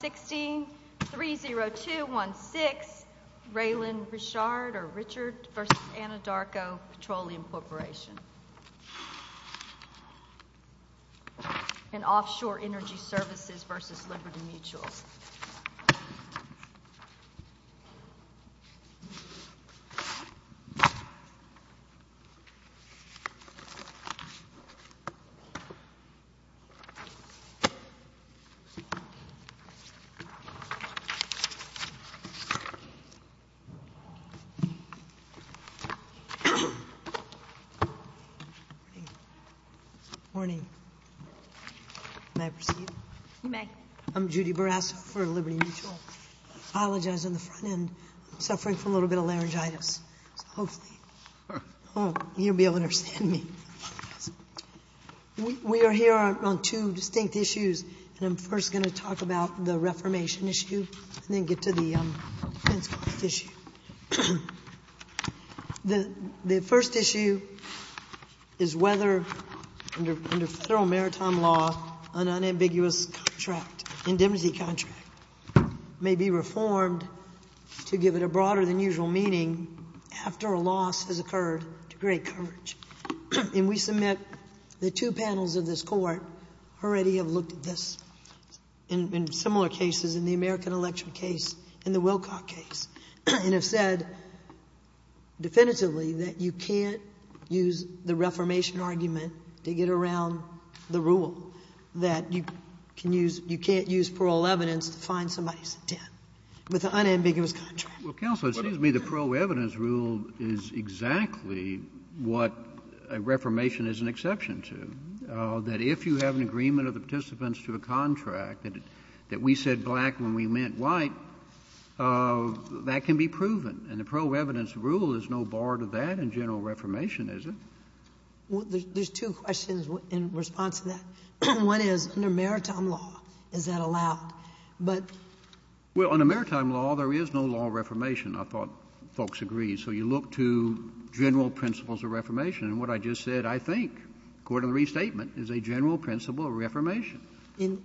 30216 Raylin Richard v. Anadarko Petroleum Corporation and Offshore Energy Services v. Liberty Mutuals Good morning. May I proceed? You may. I'm Judy Barrasso for Liberty Mutual. I apologize on the front end. I'm suffering from a little bit of laryngitis, so hopefully you'll be able to understand me. We are here on two distinct issues, and I'm first going to talk about the reformation issue and then get to the defense cost issue. The first issue is whether, under federal maritime law, an unambiguous contract, indemnity contract, may be reformed to give it a broader-than-usual meaning after a loss has occurred to great coverage. And we submit the two panels of this Court already have looked at this in similar cases, in the American Electric case and the Wilcock case, and have said definitively that you can't use the reformation argument to get around the rule, that you can't use parole evidence to find somebody's intent with an unambiguous contract. Well, Counsel, it seems to me the parole evidence rule is exactly what a reformation is an exception to, that if you have an agreement of the participants to a contract, that we said black when we meant white, that can be proven. And the parole evidence rule is no bar to that in general reformation, is it? Well, there's two questions in response to that. One is, under maritime law, is that allowed? But — Well, under maritime law, there is no law of reformation. I thought folks agreed. So you look to general principles of reformation. And what I just said, I think, according to the restatement, is a general principle of reformation. And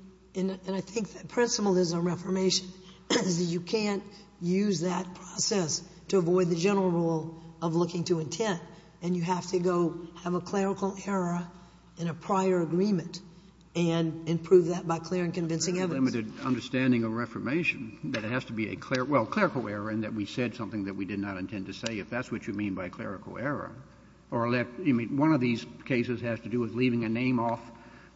I think the principle is a reformation, is that you can't use that process to avoid the general rule of looking to intent, and you have to go have a clerical error in a prior agreement and improve that by clear and convincing evidence. Well, there's a very limited understanding of reformation, that it has to be a clerical — well, clerical error in that we said something that we did not intend to say, if that's what you mean by clerical error. Or let — I mean, one of these cases has to do with leaving a name off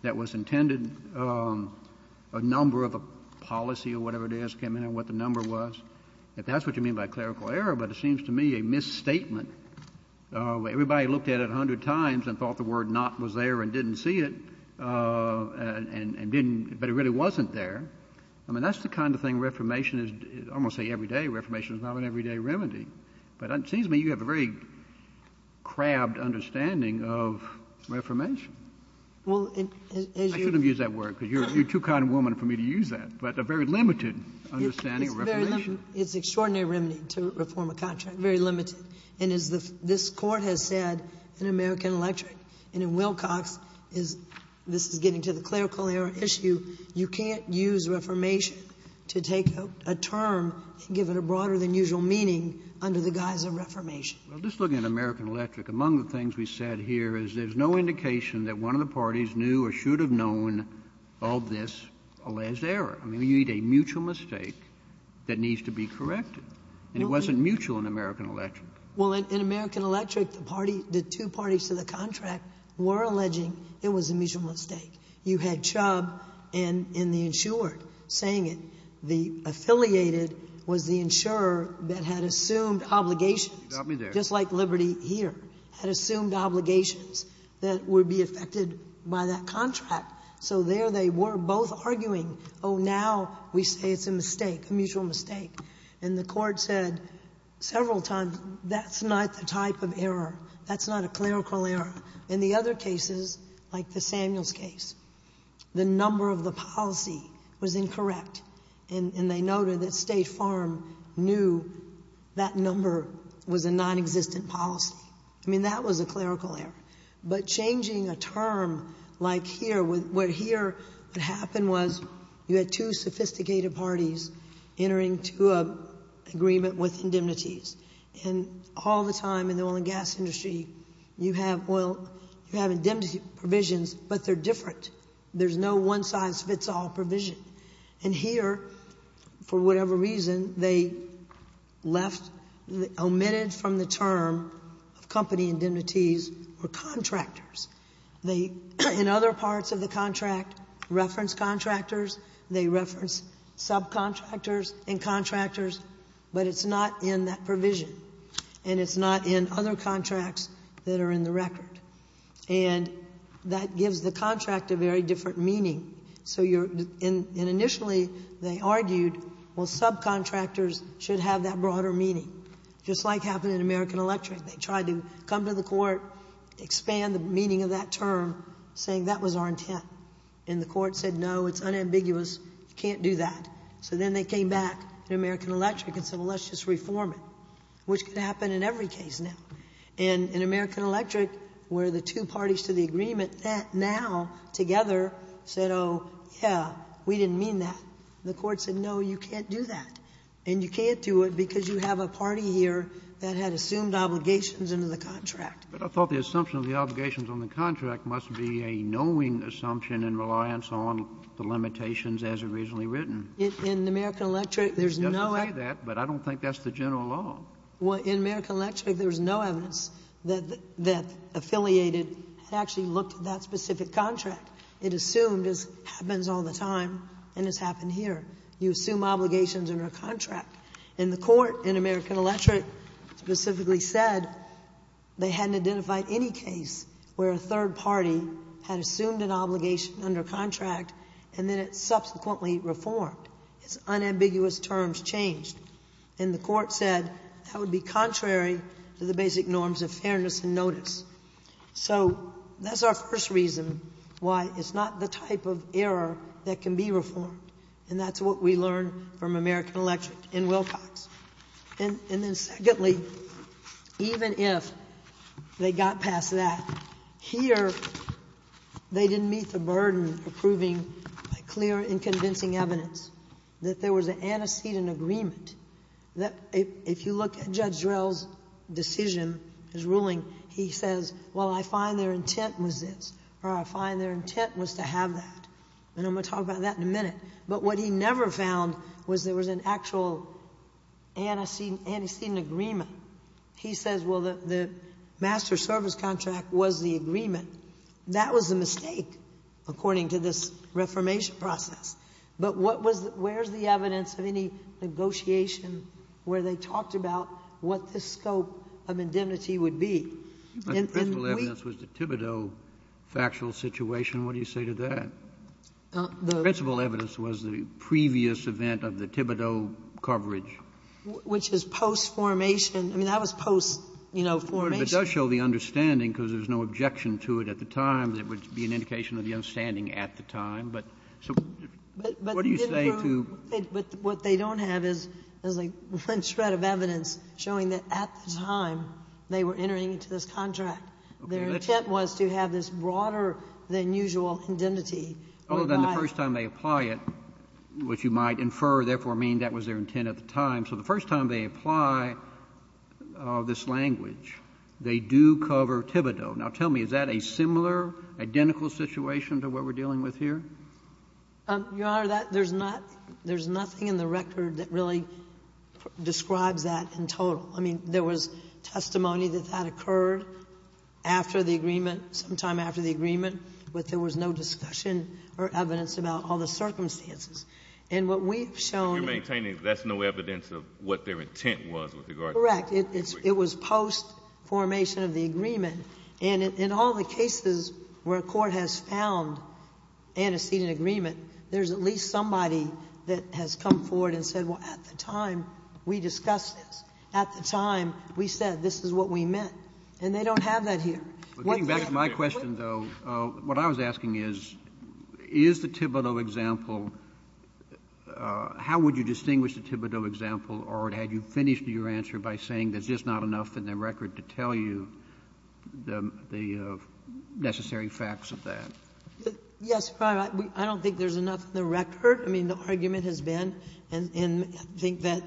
that was intended, a number of a policy or whatever it is came in and what the number was. If that's what you mean by clerical error, but it seems to me a misstatement. Everybody looked at it a hundred times and thought the word not was there and didn't see it, and didn't — but it really wasn't there. I mean, that's the kind of thing reformation is — I'm going to say every day, reformation is not an everyday remedy. But it seems to me you have a very crabbed understanding of reformation. Well, as you — I shouldn't have used that word, because you're too kind a woman for me to use that. But a very limited understanding of reformation. It's a very — it's an extraordinary remedy to reform a contract, very limited. And as the — this Court has said in American Electric and in Wilcox, this is getting to the clerical error issue, you can't use reformation to take a term and give it a broader than usual meaning under the guise of reformation. Well, just looking at American Electric, among the things we said here is there's no indication that one of the parties knew or should have known of this alleged error. I mean, you need a mutual mistake that needs to be corrected. And it wasn't mutual in American Electric. Well, in American Electric, the party — the two parties to the contract were alleging it was a mutual mistake. You had Chubb and the insured saying it. The affiliated was the insurer that had assumed obligations — You got me there. — just like Liberty here, had assumed obligations that would be affected by that So now we say it's a mistake, a mutual mistake. And the Court said several times, that's not the type of error. That's not a clerical error. In the other cases, like the Samuels case, the number of the policy was incorrect. And they noted that State Farm knew that number was a nonexistent policy. I mean, that was a clerical error. But changing a term like here, what happened was you had two sophisticated parties entering to an agreement with indemnities. And all the time in the oil and gas industry, you have oil — you have indemnity provisions, but they're different. There's no one-size-fits-all provision. And here, for whatever reason, they left — They, in other parts of the contract, reference contractors. They reference subcontractors and contractors. But it's not in that provision. And it's not in other contracts that are in the record. And that gives the contract a very different meaning. So you're — and initially, they argued, well, subcontractors should have that broader meaning. Just like happened in American Electric. They tried to come to the Court, expand the meaning of that term, saying that was our intent. And the Court said, no, it's unambiguous. You can't do that. So then they came back to American Electric and said, well, let's just reform it, which could happen in every case now. And in American Electric, where the two parties to the agreement now together said, oh, yeah, we didn't mean that, the Court said, no, you can't do that. And you can't do it because you have a party here that had assumed obligations under the contract. But I thought the assumption of the obligations on the contract must be a knowing assumption in reliance on the limitations as originally written. In American Electric, there's no — It's just to say that, but I don't think that's the general law. Well, in American Electric, there's no evidence that affiliated actually looked at that specific contract. It assumed it happens all the time, and it's happened here. You assume obligations under a contract. And the Court in American Electric specifically said they hadn't identified any case where a third party had assumed an obligation under a contract, and then it subsequently reformed. Its unambiguous terms changed. And the Court said that would be contrary to the basic norms of fairness and notice. So that's our first reason why it's not the type of error that can be reformed. And that's what we learned from American Electric and Wilcox. And then secondly, even if they got past that, here they didn't meet the burden of proving clear and convincing evidence that there was an antecedent agreement that if you look at Judge Drell's decision, his ruling, he says, well, I find their intent was this, or I find their intent was to have that. And I'm going to talk about that in a minute. But what he never found was there was an actual antecedent agreement. He says, well, the master service contract was the agreement. That was a mistake, according to this reformation process. But what was the — where's the evidence of any negotiation where they talked about what the scope of indemnity would be? And we — Kennedy, I think the principal evidence was the Thibodeau factual situation. What do you say to that? The principal evidence was the previous event of the Thibodeau coverage. Which is post-formation. I mean, that was post, you know, formation. It does show the understanding, because there's no objection to it at the time. There would be an indication of the understanding at the time. But so what do you say to — But what they don't have is, like, one shred of evidence showing that at the time they were entering into this contract, their intent was to have this broader-than-usual indemnity. Well, then, the first time they apply it, which you might infer, therefore, meaning that was their intent at the time. So the first time they apply this language, they do cover Thibodeau. Now, tell me, is that a similar, identical situation to what we're dealing with here? Your Honor, that — there's not — there's nothing in the record that really describes that in total. I mean, there was testimony that that occurred after the agreement, sometime after the agreement, but there was no discussion or evidence about all the circumstances. And what we've shown — But you're maintaining that's no evidence of what their intent was with regard to — Correct. It was post-formation of the agreement. And in all the cases where a court has found antecedent agreement, there's at least somebody that has come forward and said, well, at the time we discussed this. At the time we said this is what we meant. And they don't have that here. Getting back to my question, though, what I was asking is, is the Thibodeau example — how would you distinguish the Thibodeau example, or had you finished your answer by saying there's just not enough in the record to tell you the necessary facts of that? Yes, Your Honor. I don't think there's enough in the record. I mean, the argument has been, and I think that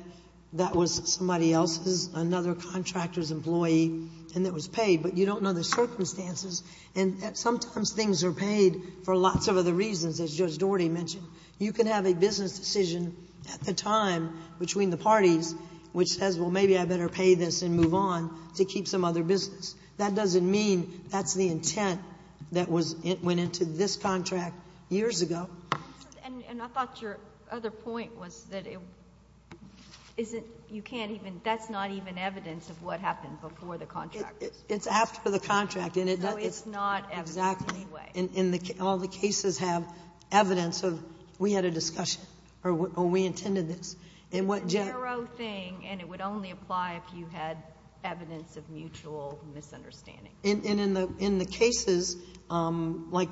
that was somebody else's, another contractor's employee, and it was paid. But you don't know the circumstances. And sometimes things are paid for lots of other reasons, as Judge Doherty mentioned. You can have a business decision at the time between the parties which says, well, maybe I better pay this and move on to keep some other business. That doesn't mean that's the intent that was — went into this contract years ago. And I thought your other point was that you can't even — that's not even evidence of what happened before the contract. It's after the contract. No, it's not evidence anyway. Exactly. And all the cases have evidence of we had a discussion, or we intended this. It's a narrow thing, and it would only apply if you had evidence of mutual misunderstanding. And in the cases like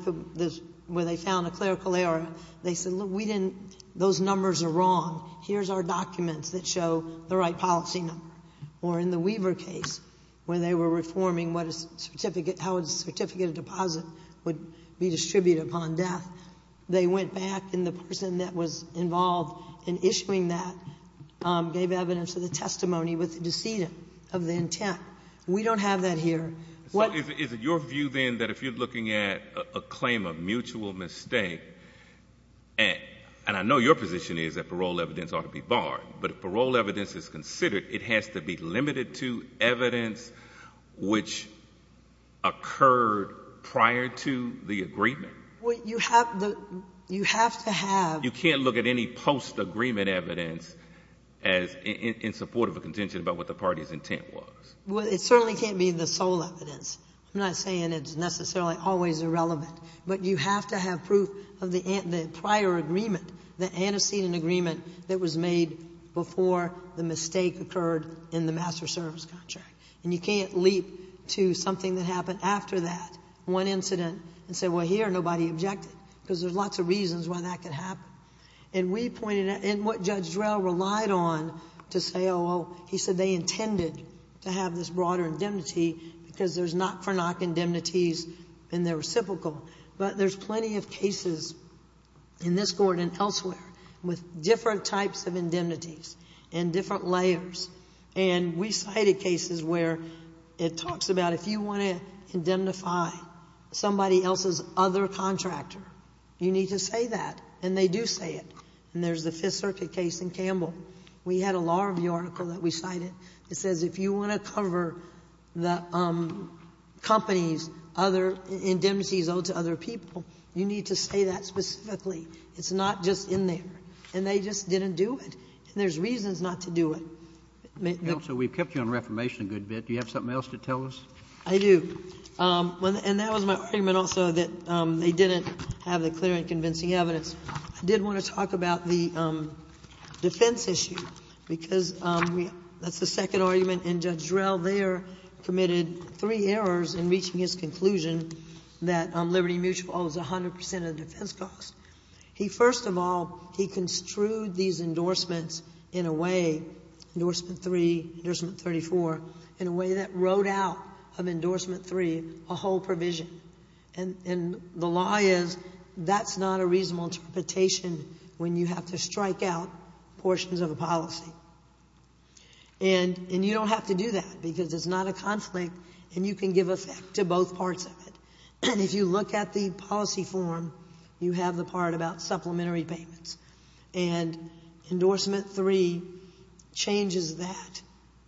where they found a clerical error, they said, look, we didn't — those numbers are wrong. Here's our documents that show the right policy number. Or in the Weaver case, where they were reforming what a certificate — how a certificate of deposit would be distributed upon death, they went back, and the person that was involved in issuing that gave evidence of the testimony with the decedent of the intent. We don't have that here. So is it your view, then, that if you're looking at a claim of mutual mistake — and I know your position is that parole evidence ought to be barred, but if parole evidence is considered, it has to be limited to evidence which occurred prior to the agreement. Well, you have to have — You can't look at any post-agreement evidence as in support of a contention about what the party's intent was. Well, it certainly can't be the sole evidence. I'm not saying it's necessarily always irrelevant. But you have to have proof of the prior agreement, the antecedent agreement that was made before the mistake occurred in the master service contract. And you can't leap to something that happened after that, one incident, and say, well, here, nobody objected, because there's lots of reasons why that could happen. And we pointed out — and what Judge Drell relied on to say, oh, well, he said they intended to have this broader indemnity because there's knock-for-knock indemnities in the reciprocal. But there's plenty of cases in this Court and elsewhere with different types of indemnities and different layers. And we cited cases where it talks about if you want to indemnify somebody else's other contractor, you need to say that. And they do say it. And there's the Fifth Circuit case in Campbell. We had a law review article that we cited that says if you want to cover the company's other — indemnities owed to other people, you need to say that specifically. It's not just in there. And they just didn't do it. And there's reasons not to do it. Kennedy. Counsel, we've kept you on reformation a good bit. Do you have something else to tell us? I do. And that was my argument also, that they didn't have the clear and convincing evidence. I did want to talk about the defense issue, because that's the second argument. And Judge Drell there committed three errors in reaching his conclusion that Liberty Mutual owes 100 percent of the defense costs. He, first of all, he construed these endorsements in a way, endorsement three, endorsement 34, in a way that wrote out of endorsement three a whole provision. And the law is, that's not a reasonable interpretation when you have to strike out portions of a policy. And you don't have to do that, because it's not a conflict, and you can give effect to both parts of it. And if you look at the policy form, you have the part about supplementary payments. And endorsement three changes that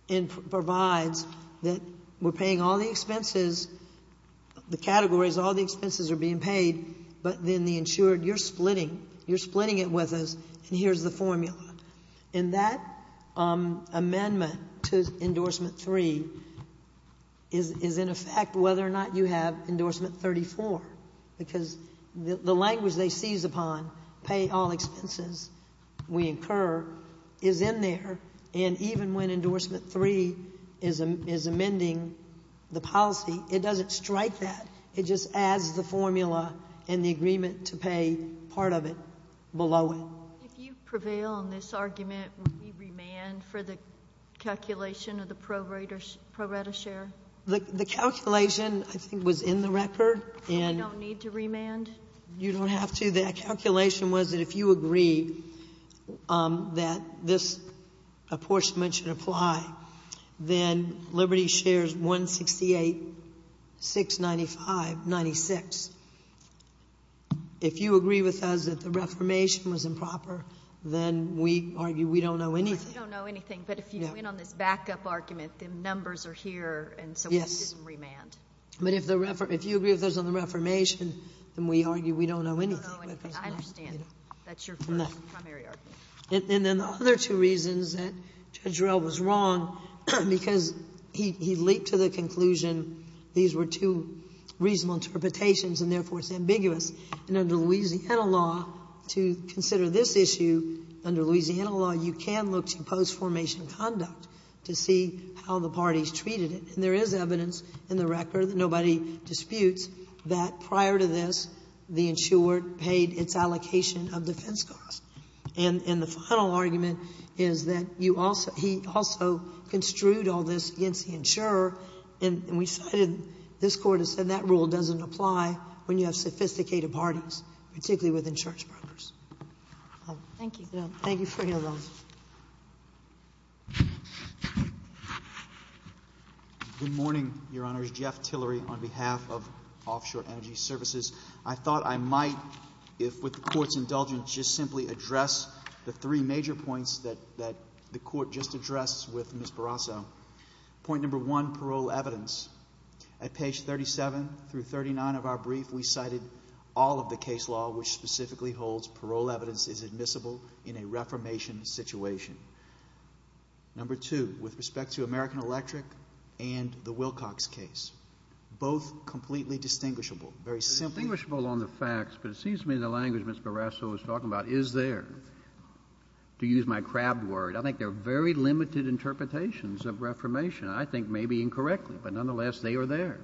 and provides that we're paying all the expenses, the categories, all the expenses are being paid, but then the insured, you're splitting, you're splitting it with us, and here's the formula. And that amendment to endorsement three is in effect whether or not you have endorsement 34, because the language they seize upon, pay all expenses, we incur, is in there. And even when endorsement three is amending the policy, it doesn't strike that. It just adds the formula and the agreement to pay part of it below it. If you prevail on this argument, would we remand for the calculation of the pro rata share? The calculation, I think, was in the record. And we don't need to remand? You don't have to. The calculation was that if you agree that this apportionment should apply, then Liberty shares 168,695.96. If you agree with us that the reformation was improper, then we argue we don't know anything. We don't know anything. But if you win on this backup argument, then numbers are here, and so we didn't remand. Yes. But if you agree with us on the reformation, then we argue we don't know anything. We don't know anything. I understand. That's your primary argument. No. And then the other two reasons that Judge Roehl was wrong, because he leaped to the conclusion these were two reasonable interpretations, and therefore it's ambiguous. And under Louisiana law, to consider this issue, under Louisiana law, you can look at each post-formation conduct to see how the parties treated it. And there is evidence in the record that nobody disputes that prior to this, the insured paid its allocation of defense costs. And the final argument is that you also he also construed all this against the insurer, and we cited this Court has said that rule doesn't apply when you have sophisticated parties, particularly with insurance brokers. Thank you. Thank you for your notes. Good morning, Your Honors. Jeff Tillery on behalf of Offshore Energy Services. I thought I might, if with the Court's indulgence, just simply address the three major points that the Court just addressed with Ms. Barrasso. Point number one, parole evidence. At page 37 through 39 of our brief, we cited all of the case law which specifically holds parole evidence is admissible in a reformation situation. Number two, with respect to American Electric and the Wilcox case. Both completely distinguishable. Very simple. Distinguishable on the facts, but it seems to me the language Ms. Barrasso is talking about is there. To use my crab word, I think there are very limited interpretations of reformation. I think maybe incorrectly, but nonetheless, they are there.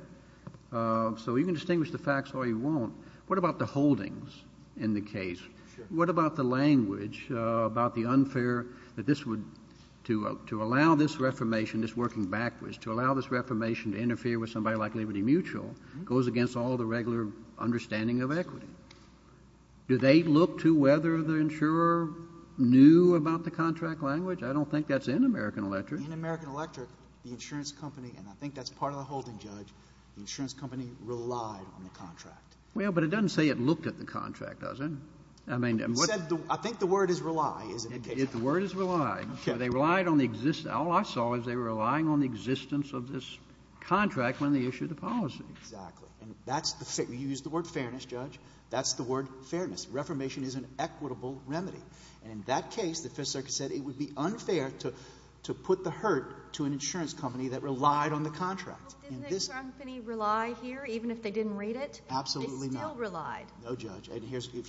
So you can distinguish the facts all you want. What about the holdings in the case? Sure. What about the language about the unfair, that this would, to allow this reformation, this working backwards, to allow this reformation to interfere with somebody like Liberty Mutual, goes against all the regular understanding of equity. Do they look to whether the insurer knew about the contract language? I don't think that's in American Electric. In American Electric, the insurance company, and I think that's part of the holding, Judge, the insurance company relied on the contract. Well, but it doesn't say it looked at the contract, does it? I think the word is rely, isn't it? The word is rely. They relied on the existence. All I saw is they were relying on the existence of this contract when they issued the policy. Exactly. You used the word fairness, Judge. That's the word fairness. Reformation is an equitable remedy. In that case, the Fifth Circuit said it would be unfair to put the hurt to an insurance company that relied on the contract. Didn't the insurance company rely here, even if they didn't read it? Absolutely not. They still relied. No, Judge.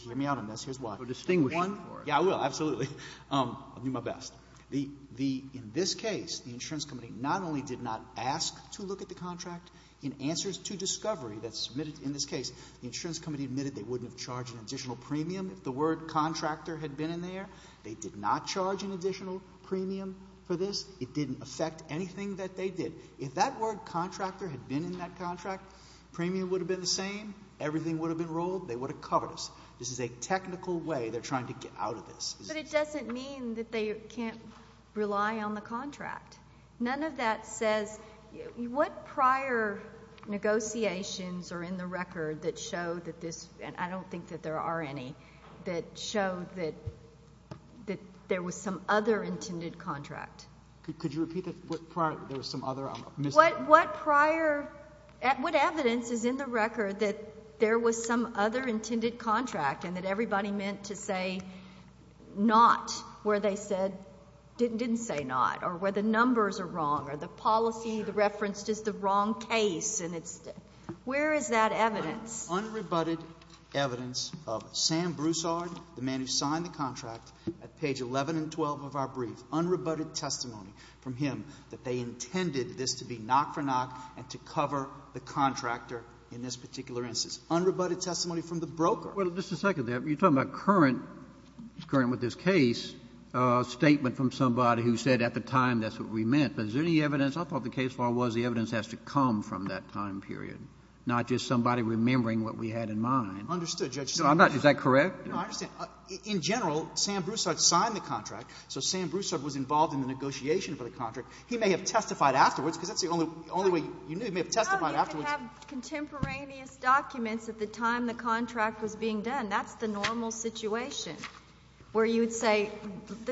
Hear me out on this. Here's why. You're distinguishing. Yeah, I will. Absolutely. I'll do my best. In this case, the insurance company not only did not ask to look at the contract, in answers to discovery that's submitted in this case, the insurance company admitted they wouldn't have charged an additional premium if the word contractor had been in there. They did not charge an additional premium for this. It didn't affect anything that they did. If that word contractor had been in that contract, premium would have been the same. Everything would have been ruled. They would have covered us. This is a technical way they're trying to get out of this. But it doesn't mean that they can't rely on the contract. None of that says what prior negotiations are in the record that show that this, and I don't think that there are any, that show that there was some other intended contract? Could you repeat that? What prior? There was some other? What prior? What evidence is in the record that there was some other intended contract and that everybody meant to say not, where they didn't say not, or where the numbers are wrong, or the policy referenced is the wrong case? Where is that evidence? Unrebutted evidence of Sam Broussard, the man who signed the contract, at that time, had no testimony from him that they intended this to be knock for knock and to cover the contractor in this particular instance. Unrebutted testimony from the broker. Well, just a second there. You're talking about current, what's current with this case, a statement from somebody who said at the time that's what we meant. But is there any evidence? I thought the case law was the evidence has to come from that time period, not just somebody remembering what we had in mind. Understood, Judge Sotomayor. No, I'm not. Is that correct? No, I understand. In general, Sam Broussard signed the contract, so Sam Broussard was involved in the negotiation for the contract. He may have testified afterwards, because that's the only way you knew. He may have testified afterwards. No, you can have contemporaneous documents at the time the contract was being done. That's the normal situation where you would say,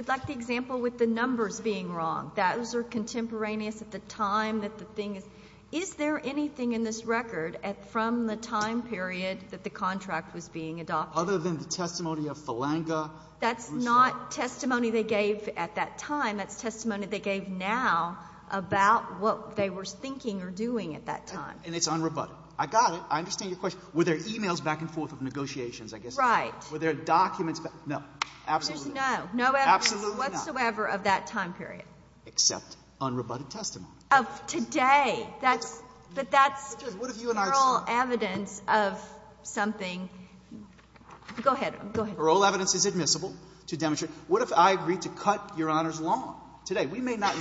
like the example with the numbers being wrong. Those are contemporaneous at the time that the thing is. Is there anything in this record from the time period that the contract was being adopted? Other than the testimony of Falanga, Broussard. That's not testimony they gave at that time. That's testimony they gave now about what they were thinking or doing at that time. And it's unrebutted. I got it. I understand your question. Were there e-mails back and forth of negotiations, I guess? Right. Were there documents? No. Absolutely not. There's no. No evidence whatsoever of that time period. Except unrebutted testimony. Of today. That's… But that's… Judge, what if you and I… Oral evidence of something. Go ahead. Go ahead. Oral evidence is admissible to demonstrate. What if I agreed to cut Your Honor's lawn today? We may not.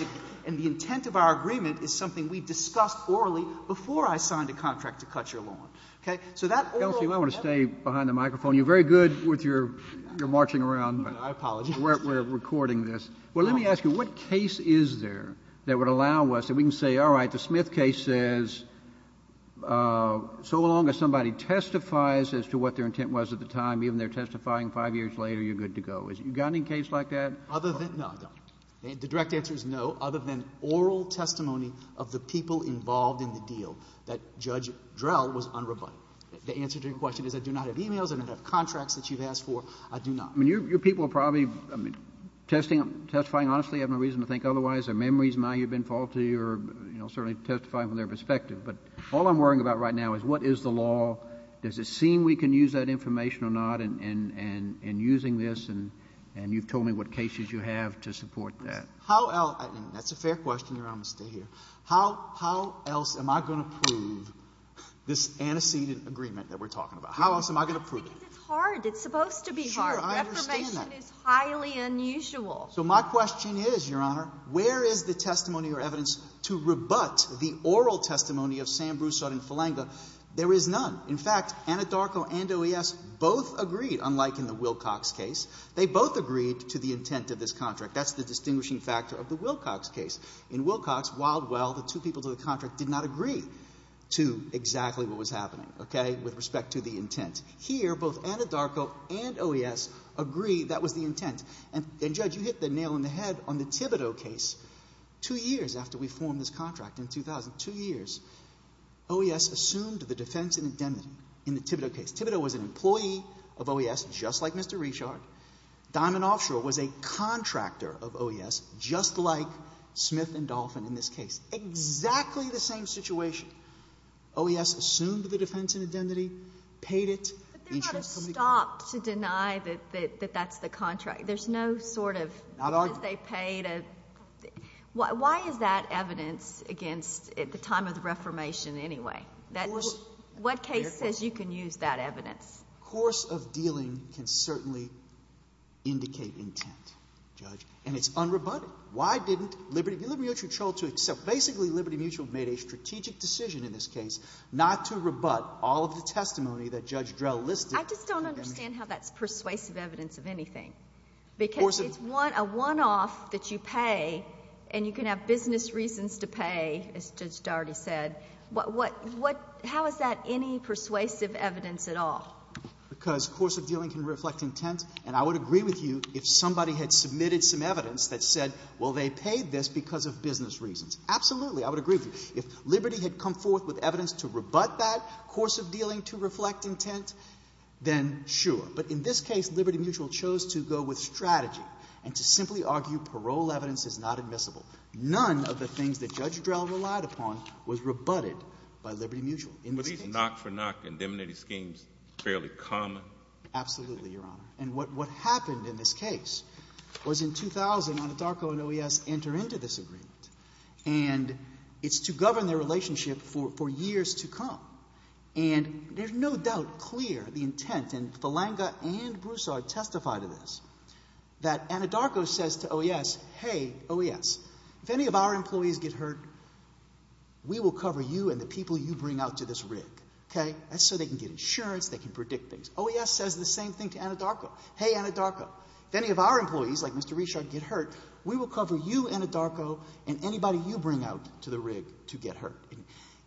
And the intent of our agreement is something we discussed orally before I signed a contract to cut your lawn. Okay? So that oral… Counsel, if you might want to stay behind the microphone. You're very good with your marching around. I apologize. We're recording this. Well, let me ask you, what case is there that would allow us, that we can say, all right, this case says, so long as somebody testifies as to what their intent was at the time, even they're testifying five years later, you're good to go. Has it gotten in case like that? Other than… No, I don't. The direct answer is no, other than oral testimony of the people involved in the deal that Judge Drell was unrebutted. The answer to your question is I do not have e-mails. I don't have contracts that you've asked for. I do not. I mean, your people are probably, I mean, testifying honestly, have no reason to think otherwise. Their memories might have been faulty or, you know, certainly testifying from their perspective. But all I'm worrying about right now is what is the law? Does it seem we can use that information or not in using this? And you've told me what cases you have to support that. How else… That's a fair question, Your Honor. I'm going to stay here. How else am I going to prove this antecedent agreement that we're talking about? How else am I going to prove it? Because it's hard. It's supposed to be hard. Sure. I understand that. Reformation is highly unusual. So my question is, Your Honor, where is the testimony or evidence to rebut the oral testimony of Sam Broussard and Falanga? There is none. In fact, Anadarko and OES both agreed, unlike in the Wilcox case, they both agreed to the intent of this contract. That's the distinguishing factor of the Wilcox case. In Wilcox, Wildwell, the two people to the contract, did not agree to exactly what was happening, okay, with respect to the intent. Here, both Anadarko and OES agree that was the intent. And, Judge, you hit the nail on the head on the Thibodeau case. Two years after we formed this contract in 2000, two years, OES assumed the defense and indemnity in the Thibodeau case. Thibodeau was an employee of OES, just like Mr. Richard. Diamond Offshore was a contractor of OES, just like Smith and Dolphin in this case. Exactly the same situation. OES assumed the defense and indemnity, paid it. But there's not a stop to deny that that's the contract. There's no sort of because they paid it. Why is that evidence against at the time of the Reformation anyway? Of course. What case says you can use that evidence? A course of dealing can certainly indicate intent, Judge, and it's unrebutted. Why didn't Liberty Mutual chose to accept? Basically, Liberty Mutual made a strategic decision in this case not to rebut all of the testimony that Judge Drell listed. I just don't understand how that's persuasive evidence of anything. Because it's a one-off that you pay and you can have business reasons to pay, as Judge Dougherty said. How is that any persuasive evidence at all? Because course of dealing can reflect intent, and I would agree with you if somebody had submitted some evidence that said, well, they paid this because of business reasons. Absolutely, I would agree with you. If Liberty had come forth with evidence to rebut that course of dealing to reflect intent, then sure. But in this case, Liberty Mutual chose to go with strategy and to simply argue parole evidence is not admissible. None of the things that Judge Drell relied upon was rebutted by Liberty Mutual in this case. But isn't knock-for-knock indemnity schemes fairly common? Absolutely, Your Honor. And what happened in this case was in 2000, Anitarko and OES enter into this agreement, and it's to govern their relationship for years to come. And there's no doubt clear the intent, and Falanga and Broussard testify to this, that Anitarko says to OES, hey, OES, if any of our employees get hurt, we will cover you and the people you bring out to this rig. Okay? That's so they can get insurance, they can predict things. OES says the same thing to Anitarko. Hey, Anitarko, if any of our employees, like Mr. Richard, get hurt, we will cover you, Anitarko, and anybody you bring out to the rig to get hurt.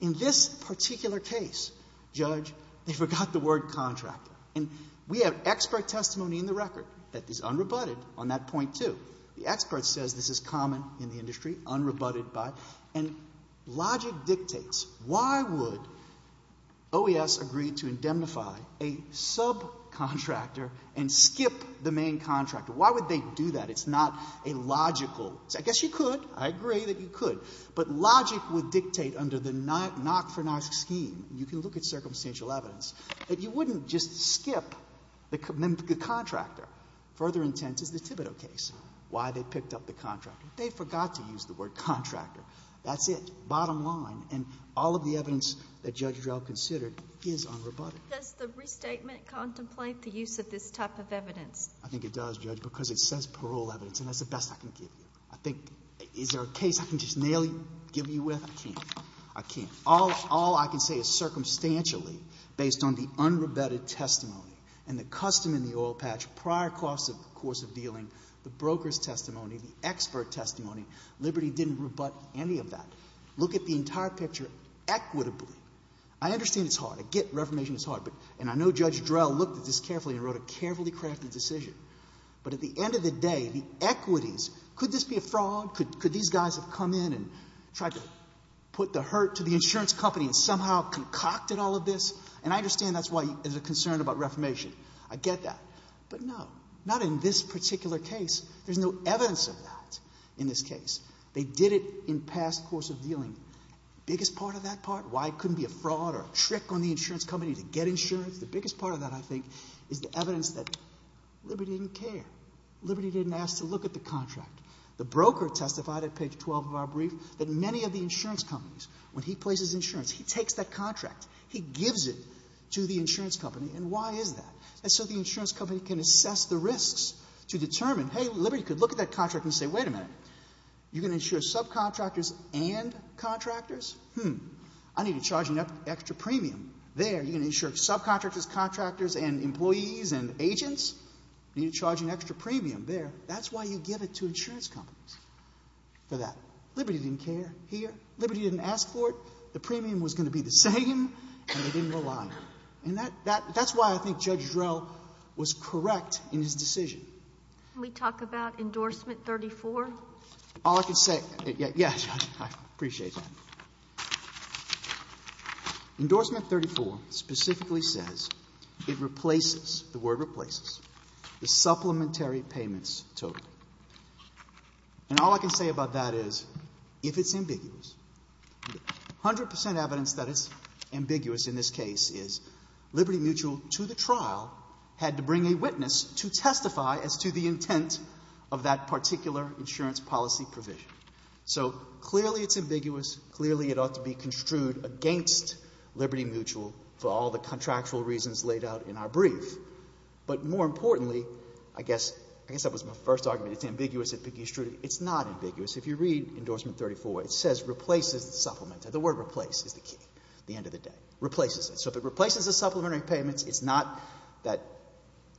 In this particular case, Judge, they forgot the word contractor. And we have expert testimony in the record that is unrebutted on that point, too. The expert says this is common in the industry, unrebutted by, and logic dictates why would OES agree to indemnify a subcontractor and skip the main contractor? Why would they do that? It's not a logical. I guess you could. I agree that you could. But logic would dictate under the NOC for NOC scheme, you can look at circumstantial evidence, that you wouldn't just skip the contractor. Further intent is the Thibodeau case, why they picked up the contractor. They forgot to use the word contractor. That's it. Bottom line. And all of the evidence that Judge Drell considered is unrebutted. Does the restatement contemplate the use of this type of evidence? I think it does, Judge, because it says parole evidence. And that's the best I can give you. I think, is there a case I can just nail you, give you with? I can't. I can't. All I can say is circumstantially, based on the unrebutted testimony and the custom in the oil patch, prior course of dealing, the broker's testimony, the expert testimony, Liberty didn't rebut any of that. Look at the entire picture equitably. I understand it's hard. I get reformation is hard. And I know Judge Drell looked at this carefully and wrote a carefully crafted decision. But at the end of the day, the equities, could this be a fraud? Could these guys have come in and tried to put the hurt to the insurance company and somehow concocted all of this? And I understand that's why there's a concern about reformation. I get that. But no, not in this particular case. There's no evidence of that in this case. They did it in past course of dealing. Biggest part of that part, why it couldn't be a fraud or a trick on the insurance company to get insurance, the biggest part of that, I think, is the evidence that Liberty didn't care. Liberty didn't ask to look at the contract. The broker testified at page 12 of our brief that many of the insurance companies, when he places insurance, he takes that contract, he gives it to the insurance company, and why is that? And so the insurance company can assess the risks to determine, hey, Liberty could look at that contract and say, wait a minute, you're going to insure subcontractors and contractors? Hmm. I need to charge an extra premium there. You're going to insure subcontractors, contractors and employees and agents? You need to charge an extra premium there. That's why you give it to insurance companies for that. Liberty didn't care here. Liberty didn't ask for it. The premium was going to be the same, and they didn't rely on it. And that's why I think Judge Drell was correct in his decision. Can we talk about endorsement 34? All I can say, yes, I appreciate that. Endorsement 34 specifically says it replaces, the word replaces, the supplementary payments total. And all I can say about that is, if it's ambiguous, 100% evidence that it's ambiguous in this case is Liberty Mutual, to the trial, had to bring a witness to testify as to the intent of that particular insurance policy provision. So clearly it's ambiguous. Clearly it ought to be construed against Liberty Mutual for all the contractual reasons laid out in our brief. But more importantly, I guess that was my first argument, it's ambiguous. It's not ambiguous. If you read endorsement 34, it says replaces the supplementary. The word replace is the key at the end of the day. Replaces it. So if it replaces the supplementary payments, it's not that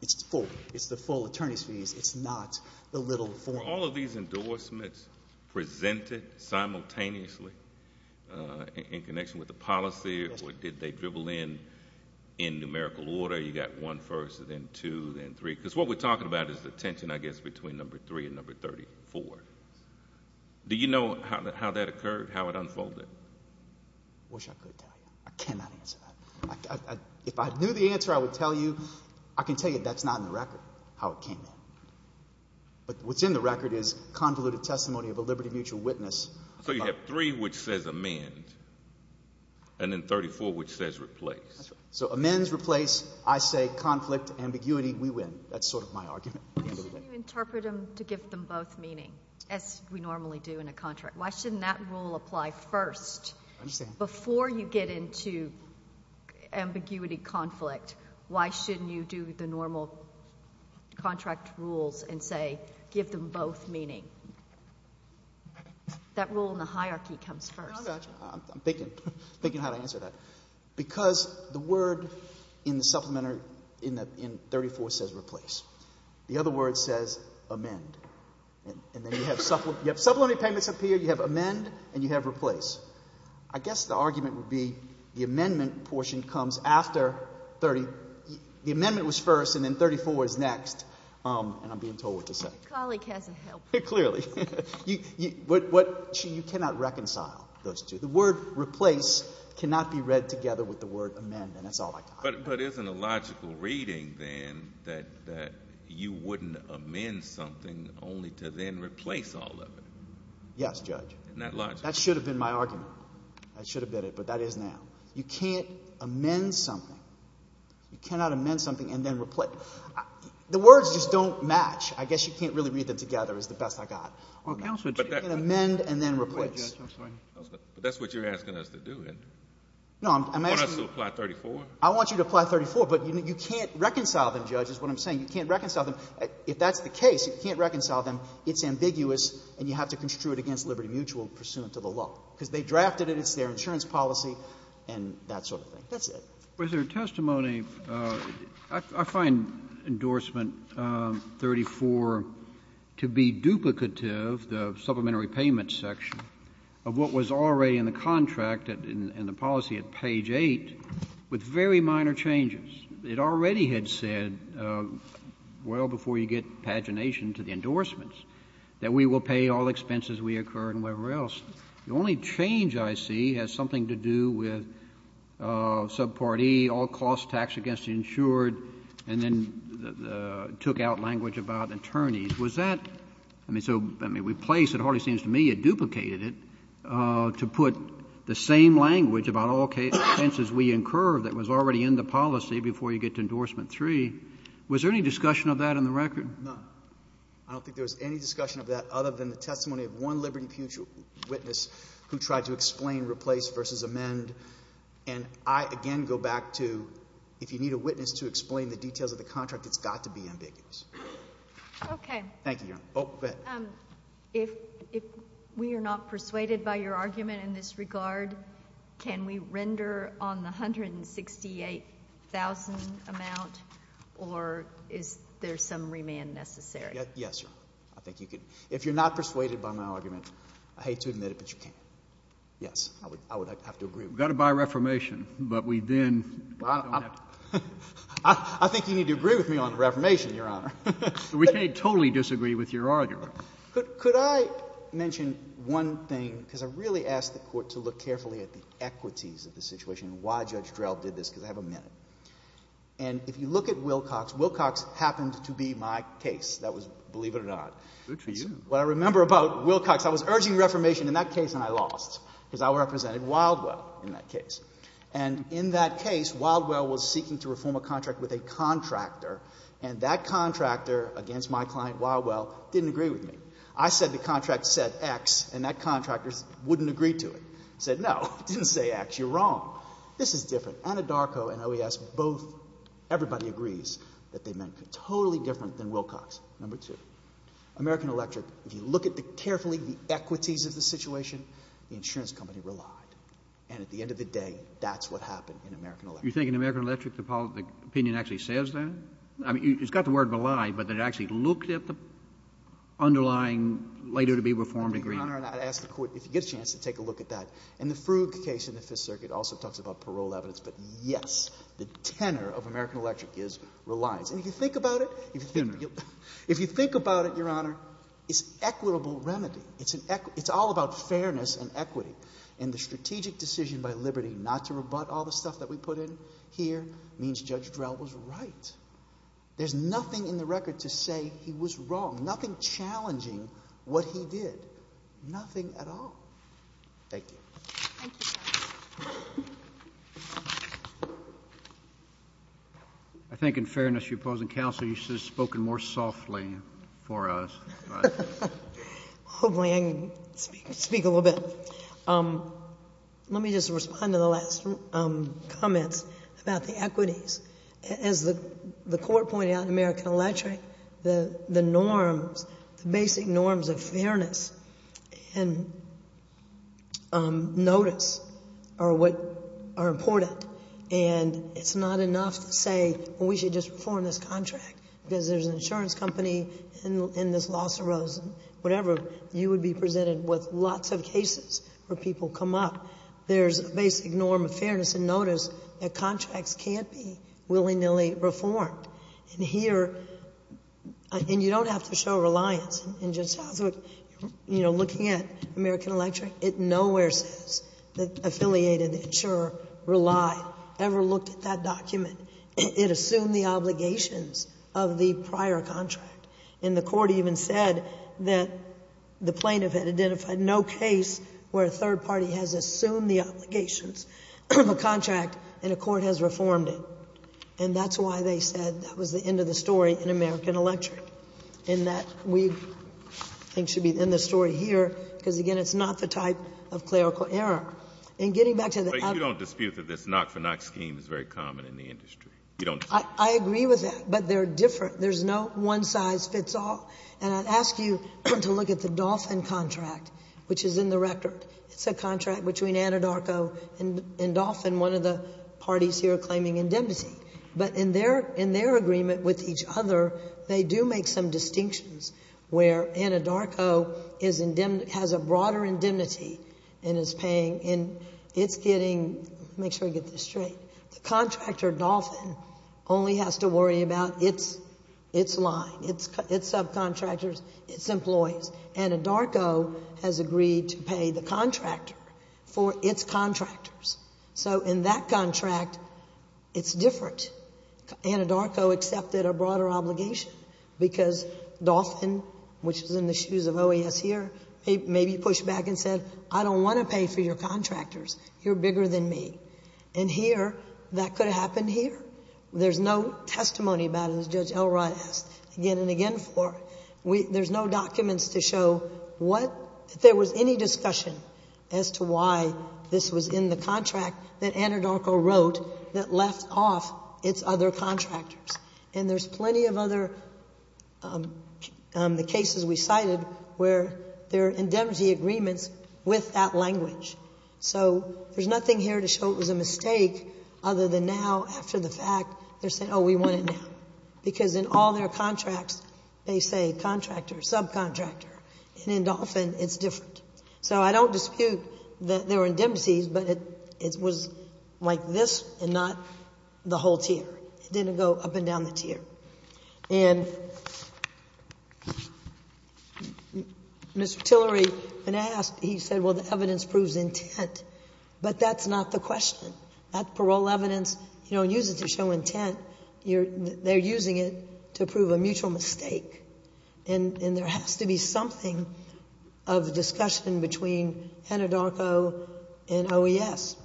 it's full. It's the full attorney's fees. It's not the little form. Were all of these endorsements presented simultaneously in connection with the policy, or did they dribble in in numerical order? You got one first, then two, then three. Because what we're talking about is the tension, I guess, between number three and number 34. Do you know how that occurred, how it unfolded? I wish I could tell you. I cannot answer that. If I knew the answer, I would tell you. I can tell you that's not in the record, how it came in. But what's in the record is convoluted testimony of a liberty mutual witness. So you have three which says amend, and then 34 which says replace. So amends, replace, I say conflict, ambiguity, we win. That's sort of my argument. Why shouldn't you interpret them to give them both meaning, as we normally do in a contract? Why shouldn't that rule apply first? Before you get into ambiguity, conflict, why shouldn't you do the normal contract rules and say give them both meaning? That rule in the hierarchy comes first. I'm thinking how to answer that. Because the word in the supplementary in 34 says replace. The other word says amend. And then you have supplementary payments up here, you have amend and you have replace. I guess the argument would be the amendment portion comes after 30. The amendment was first, and then 34 is next, and I'm being told what to say. The colleague hasn't helped. Clearly. You cannot reconcile those two. The word replace cannot be read together with the word amend, and that's all I can offer. But isn't a logical reading then that you wouldn't amend something only to then replace all of it? Yes, Judge. Not logical. That should have been my argument. That should have been it, but that is now. You can't amend something. You cannot amend something and then replace. The words just don't match. I guess you can't really read them together is the best I got. You can amend and then replace. But that's what you're asking us to do. Want us to apply 34? I want you to apply 34, but you can't reconcile them, Judge, is what I'm saying. You can't reconcile them. If that's the case, you can't reconcile them. It's ambiguous and you have to construe it against Liberty Mutual pursuant to the law. Because they drafted it. It's their insurance policy and that sort of thing. That's it. But there is testimony. I find endorsement 34 to be duplicative, the supplementary payment section, of what was already in the contract and the policy at page 8 with very minor changes. It already had said, well, before you get pagination to the endorsements, that we will pay all expenses we incur and wherever else. The only change I see has something to do with subpart E, all costs taxed against the insured, and then took out language about attorneys. Was that — I mean, so replace, it hardly seems to me, it duplicated it to put the same language about all expenses we incur that was already in the policy before you get to endorsement 3. Was there any discussion of that in the record? No. I don't think there was any discussion of that other than the testimony of one Liberty Mutual witness who tried to explain replace versus amend. And I, again, go back to if you need a witness to explain the details of the contract, it's got to be ambiguous. Okay. Thank you, Your Honor. Oh, go ahead. If we are not persuaded by your argument in this regard, can we render on the $168,000 amount, or is there some remand necessary? Yes, Your Honor. I think you could. If you're not persuaded by my argument, I hate to admit it, but you can. Yes. I would have to agree. We've got to buy Reformation, but we then don't have to. I think you need to agree with me on Reformation, Your Honor. We can't totally disagree with your argument. Could I mention one thing? Because I really ask the Court to look carefully at the equities of the situation and why Judge Drell did this, because I have a minute. And if you look at Wilcox, Wilcox happened to be my case. That was, believe it or not. Good for you. What I remember about Wilcox, I was urging Reformation in that case, and I lost, because I represented Wildwell in that case. And in that case, Wildwell was seeking to reform a contract with a contractor, and that contractor, against my client Wildwell, didn't agree with me. I said the contract said X, and that contractor wouldn't agree to it. He said, no, it didn't say X. You're wrong. This is different. Anadarko and OES both, everybody agrees that they meant totally different than Wilcox. Number two, American Electric, if you look at carefully the equities of the situation, the insurance company relied. And at the end of the day, that's what happened in American Electric. The opinion actually says that. It's got the word belied, but it actually looked at the underlying later-to-be-reformed agreement. Your Honor, I'd ask the Court if you get a chance to take a look at that. And the Frug case in the Fifth Circuit also talks about parole evidence. But, yes, the tenor of American Electric is reliance. And if you think about it. Tenor. If you think about it, Your Honor, it's equitable remedy. It's all about fairness and equity. And the strategic decision by Liberty not to rebut all the stuff that we put in here means Judge Drell was right. There's nothing in the record to say he was wrong. Nothing challenging what he did. Nothing at all. Thank you. Thank you, Your Honor. I think in fairness to opposing counsel, you should have spoken more softly for us. Hopefully I can speak a little bit. Let me just respond to the last comments about the equities. As the Court pointed out in American Electric, the norms, the basic norms of fairness and notice are what are important. And it's not enough to say, well, we should just reform this contract. Because there's an insurance company and this loss arose. Whatever. You would be presented with lots of cases where people come up. There's a basic norm of fairness and notice that contracts can't be willy-nilly reformed. And here. And you don't have to show reliance. You know, looking at American Electric, it nowhere says that affiliated insurer relied, ever looked at that document. It assumed the obligations of the prior contract. And the Court even said that the plaintiff had identified no case where a third party has assumed the obligations of a contract and a court has reformed it. And that's why they said that was the end of the story in American Electric. And that we think should be the end of the story here, because, again, it's not the type of clerical error. And getting back to the other. But you don't dispute that this knock-for-knock scheme is very common in the industry? You don't dispute that? I agree with that. But they're different. There's no one-size-fits-all. And I'd ask you to look at the Dolphin contract, which is in the record. It's a contract between Anadarko and Dolphin, one of the parties here claiming indemnity. But in their agreement with each other, they do make some distinctions where Anadarko has a broader indemnity and is paying, and it's getting, make sure I get this straight, the contractor, Dolphin, only has to worry about its line, its subcontractors, its employees. Anadarko has agreed to pay the contractor for its contractors. So in that contract, it's different. Anadarko accepted a broader obligation because Dolphin, which is in the shoes of OAS here, maybe pushed back and said, I don't want to pay for your contractors. You're bigger than me. And here, that could have happened here. There's no testimony about it, as Judge Elrod asked again and again for. There's no documents to show what, if there was any discussion as to why this was in the contract that Anadarko wrote that left off its other contractors. And there's plenty of other cases we cited where there are indemnity agreements with that language. So there's nothing here to show it was a mistake other than now, after the fact, they're saying, oh, we want it now. Because in all their contracts, they say contractor, subcontractor. And in Dolphin, it's different. So I don't dispute that there were indemnities, but it was like this and not the whole tier. It didn't go up and down the tier. And Mr. Tillery, when asked, he said, well, the evidence proves intent. But that's not the question. That parole evidence, you don't use it to show intent. They're using it to prove a mutual mistake. And there has to be something of discussion between Anadarko and OES.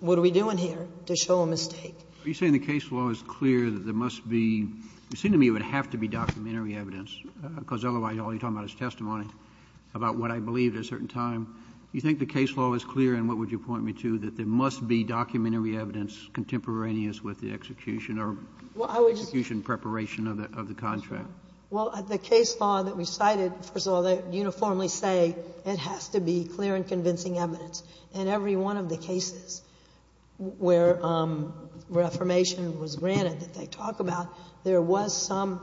What are we doing here to show a mistake? Roberts. Are you saying the case law is clear that there must be, it seemed to me it would have to be documentary evidence, because otherwise all you're talking about is testimony about what I believed at a certain time. Do you think the case law is clear, and what would you point me to, that there must be documentary evidence contemporaneous with the execution or execution preparation of the contract? Well, the case law that we cited, first of all, they uniformly say it has to be clear and convincing evidence. In every one of the cases where Reformation was granted that they talk about, there was some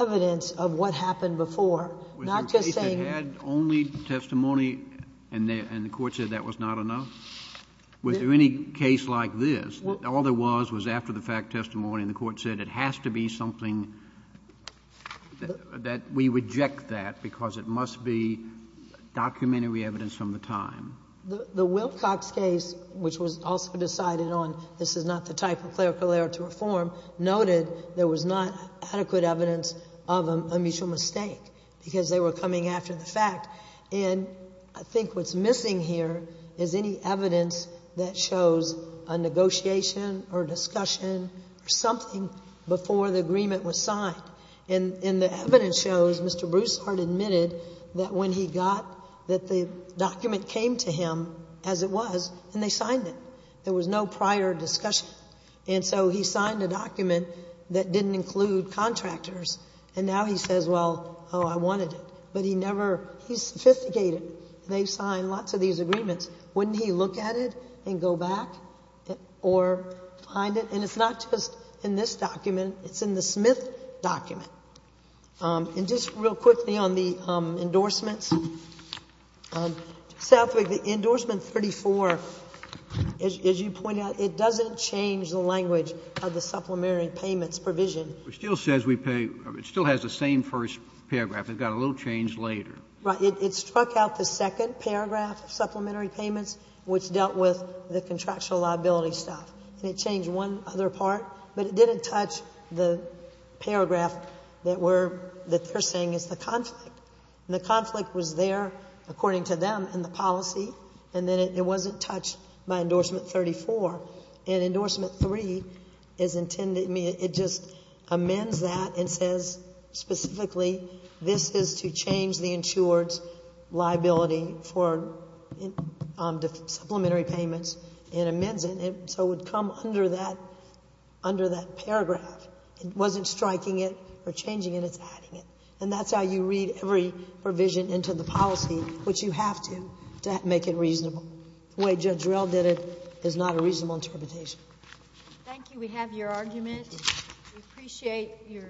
evidence of what happened before, not just saying. Had only testimony, and the Court said that was not enough? Was there any case like this, that all there was was after the fact testimony and the Court said it has to be something, that we reject that because it must be documentary evidence from the time? The Wilcox case, which was also decided on this is not the type of clerical error to reform, noted there was not adequate evidence of a mutual mistake, because they were coming after the fact. And I think what's missing here is any evidence that shows a negotiation or discussion or something before the agreement was signed. And the evidence shows Mr. Broussard admitted that when he got, that the document came to him as it was, and they signed it. There was no prior discussion. And so he signed a document that didn't include contractors, and now he says, well, oh, I wanted it. But he never, he's sophisticated. They signed lots of these agreements. Wouldn't he look at it and go back or find it? And it's not just in this document. It's in the Smith document. And just real quickly on the endorsements, Southwick, the endorsement 34, as you pointed out, it doesn't change the language of the supplementary payments provision. It still says we pay, it still has the same first paragraph. They've got a little change later. Right. It struck out the second paragraph, supplementary payments, which dealt with the contractual liability stuff. And it changed one other part, but it didn't touch the paragraph that we're, that they're saying is the conflict. And the conflict was there, according to them, in the policy, and then it wasn't touched by endorsement 34. And endorsement 3 is intended, it just amends that and says specifically this is to change the insured's liability for supplementary payments and amends it. So it would come under that, under that paragraph. It wasn't striking it or changing it. It's adding it. And that's how you read every provision into the policy, which you have to, to make it reasonable. The way Judge Rell did it is not a reasonable interpretation. Thank you. We have your argument. Thank you. We appreciate your.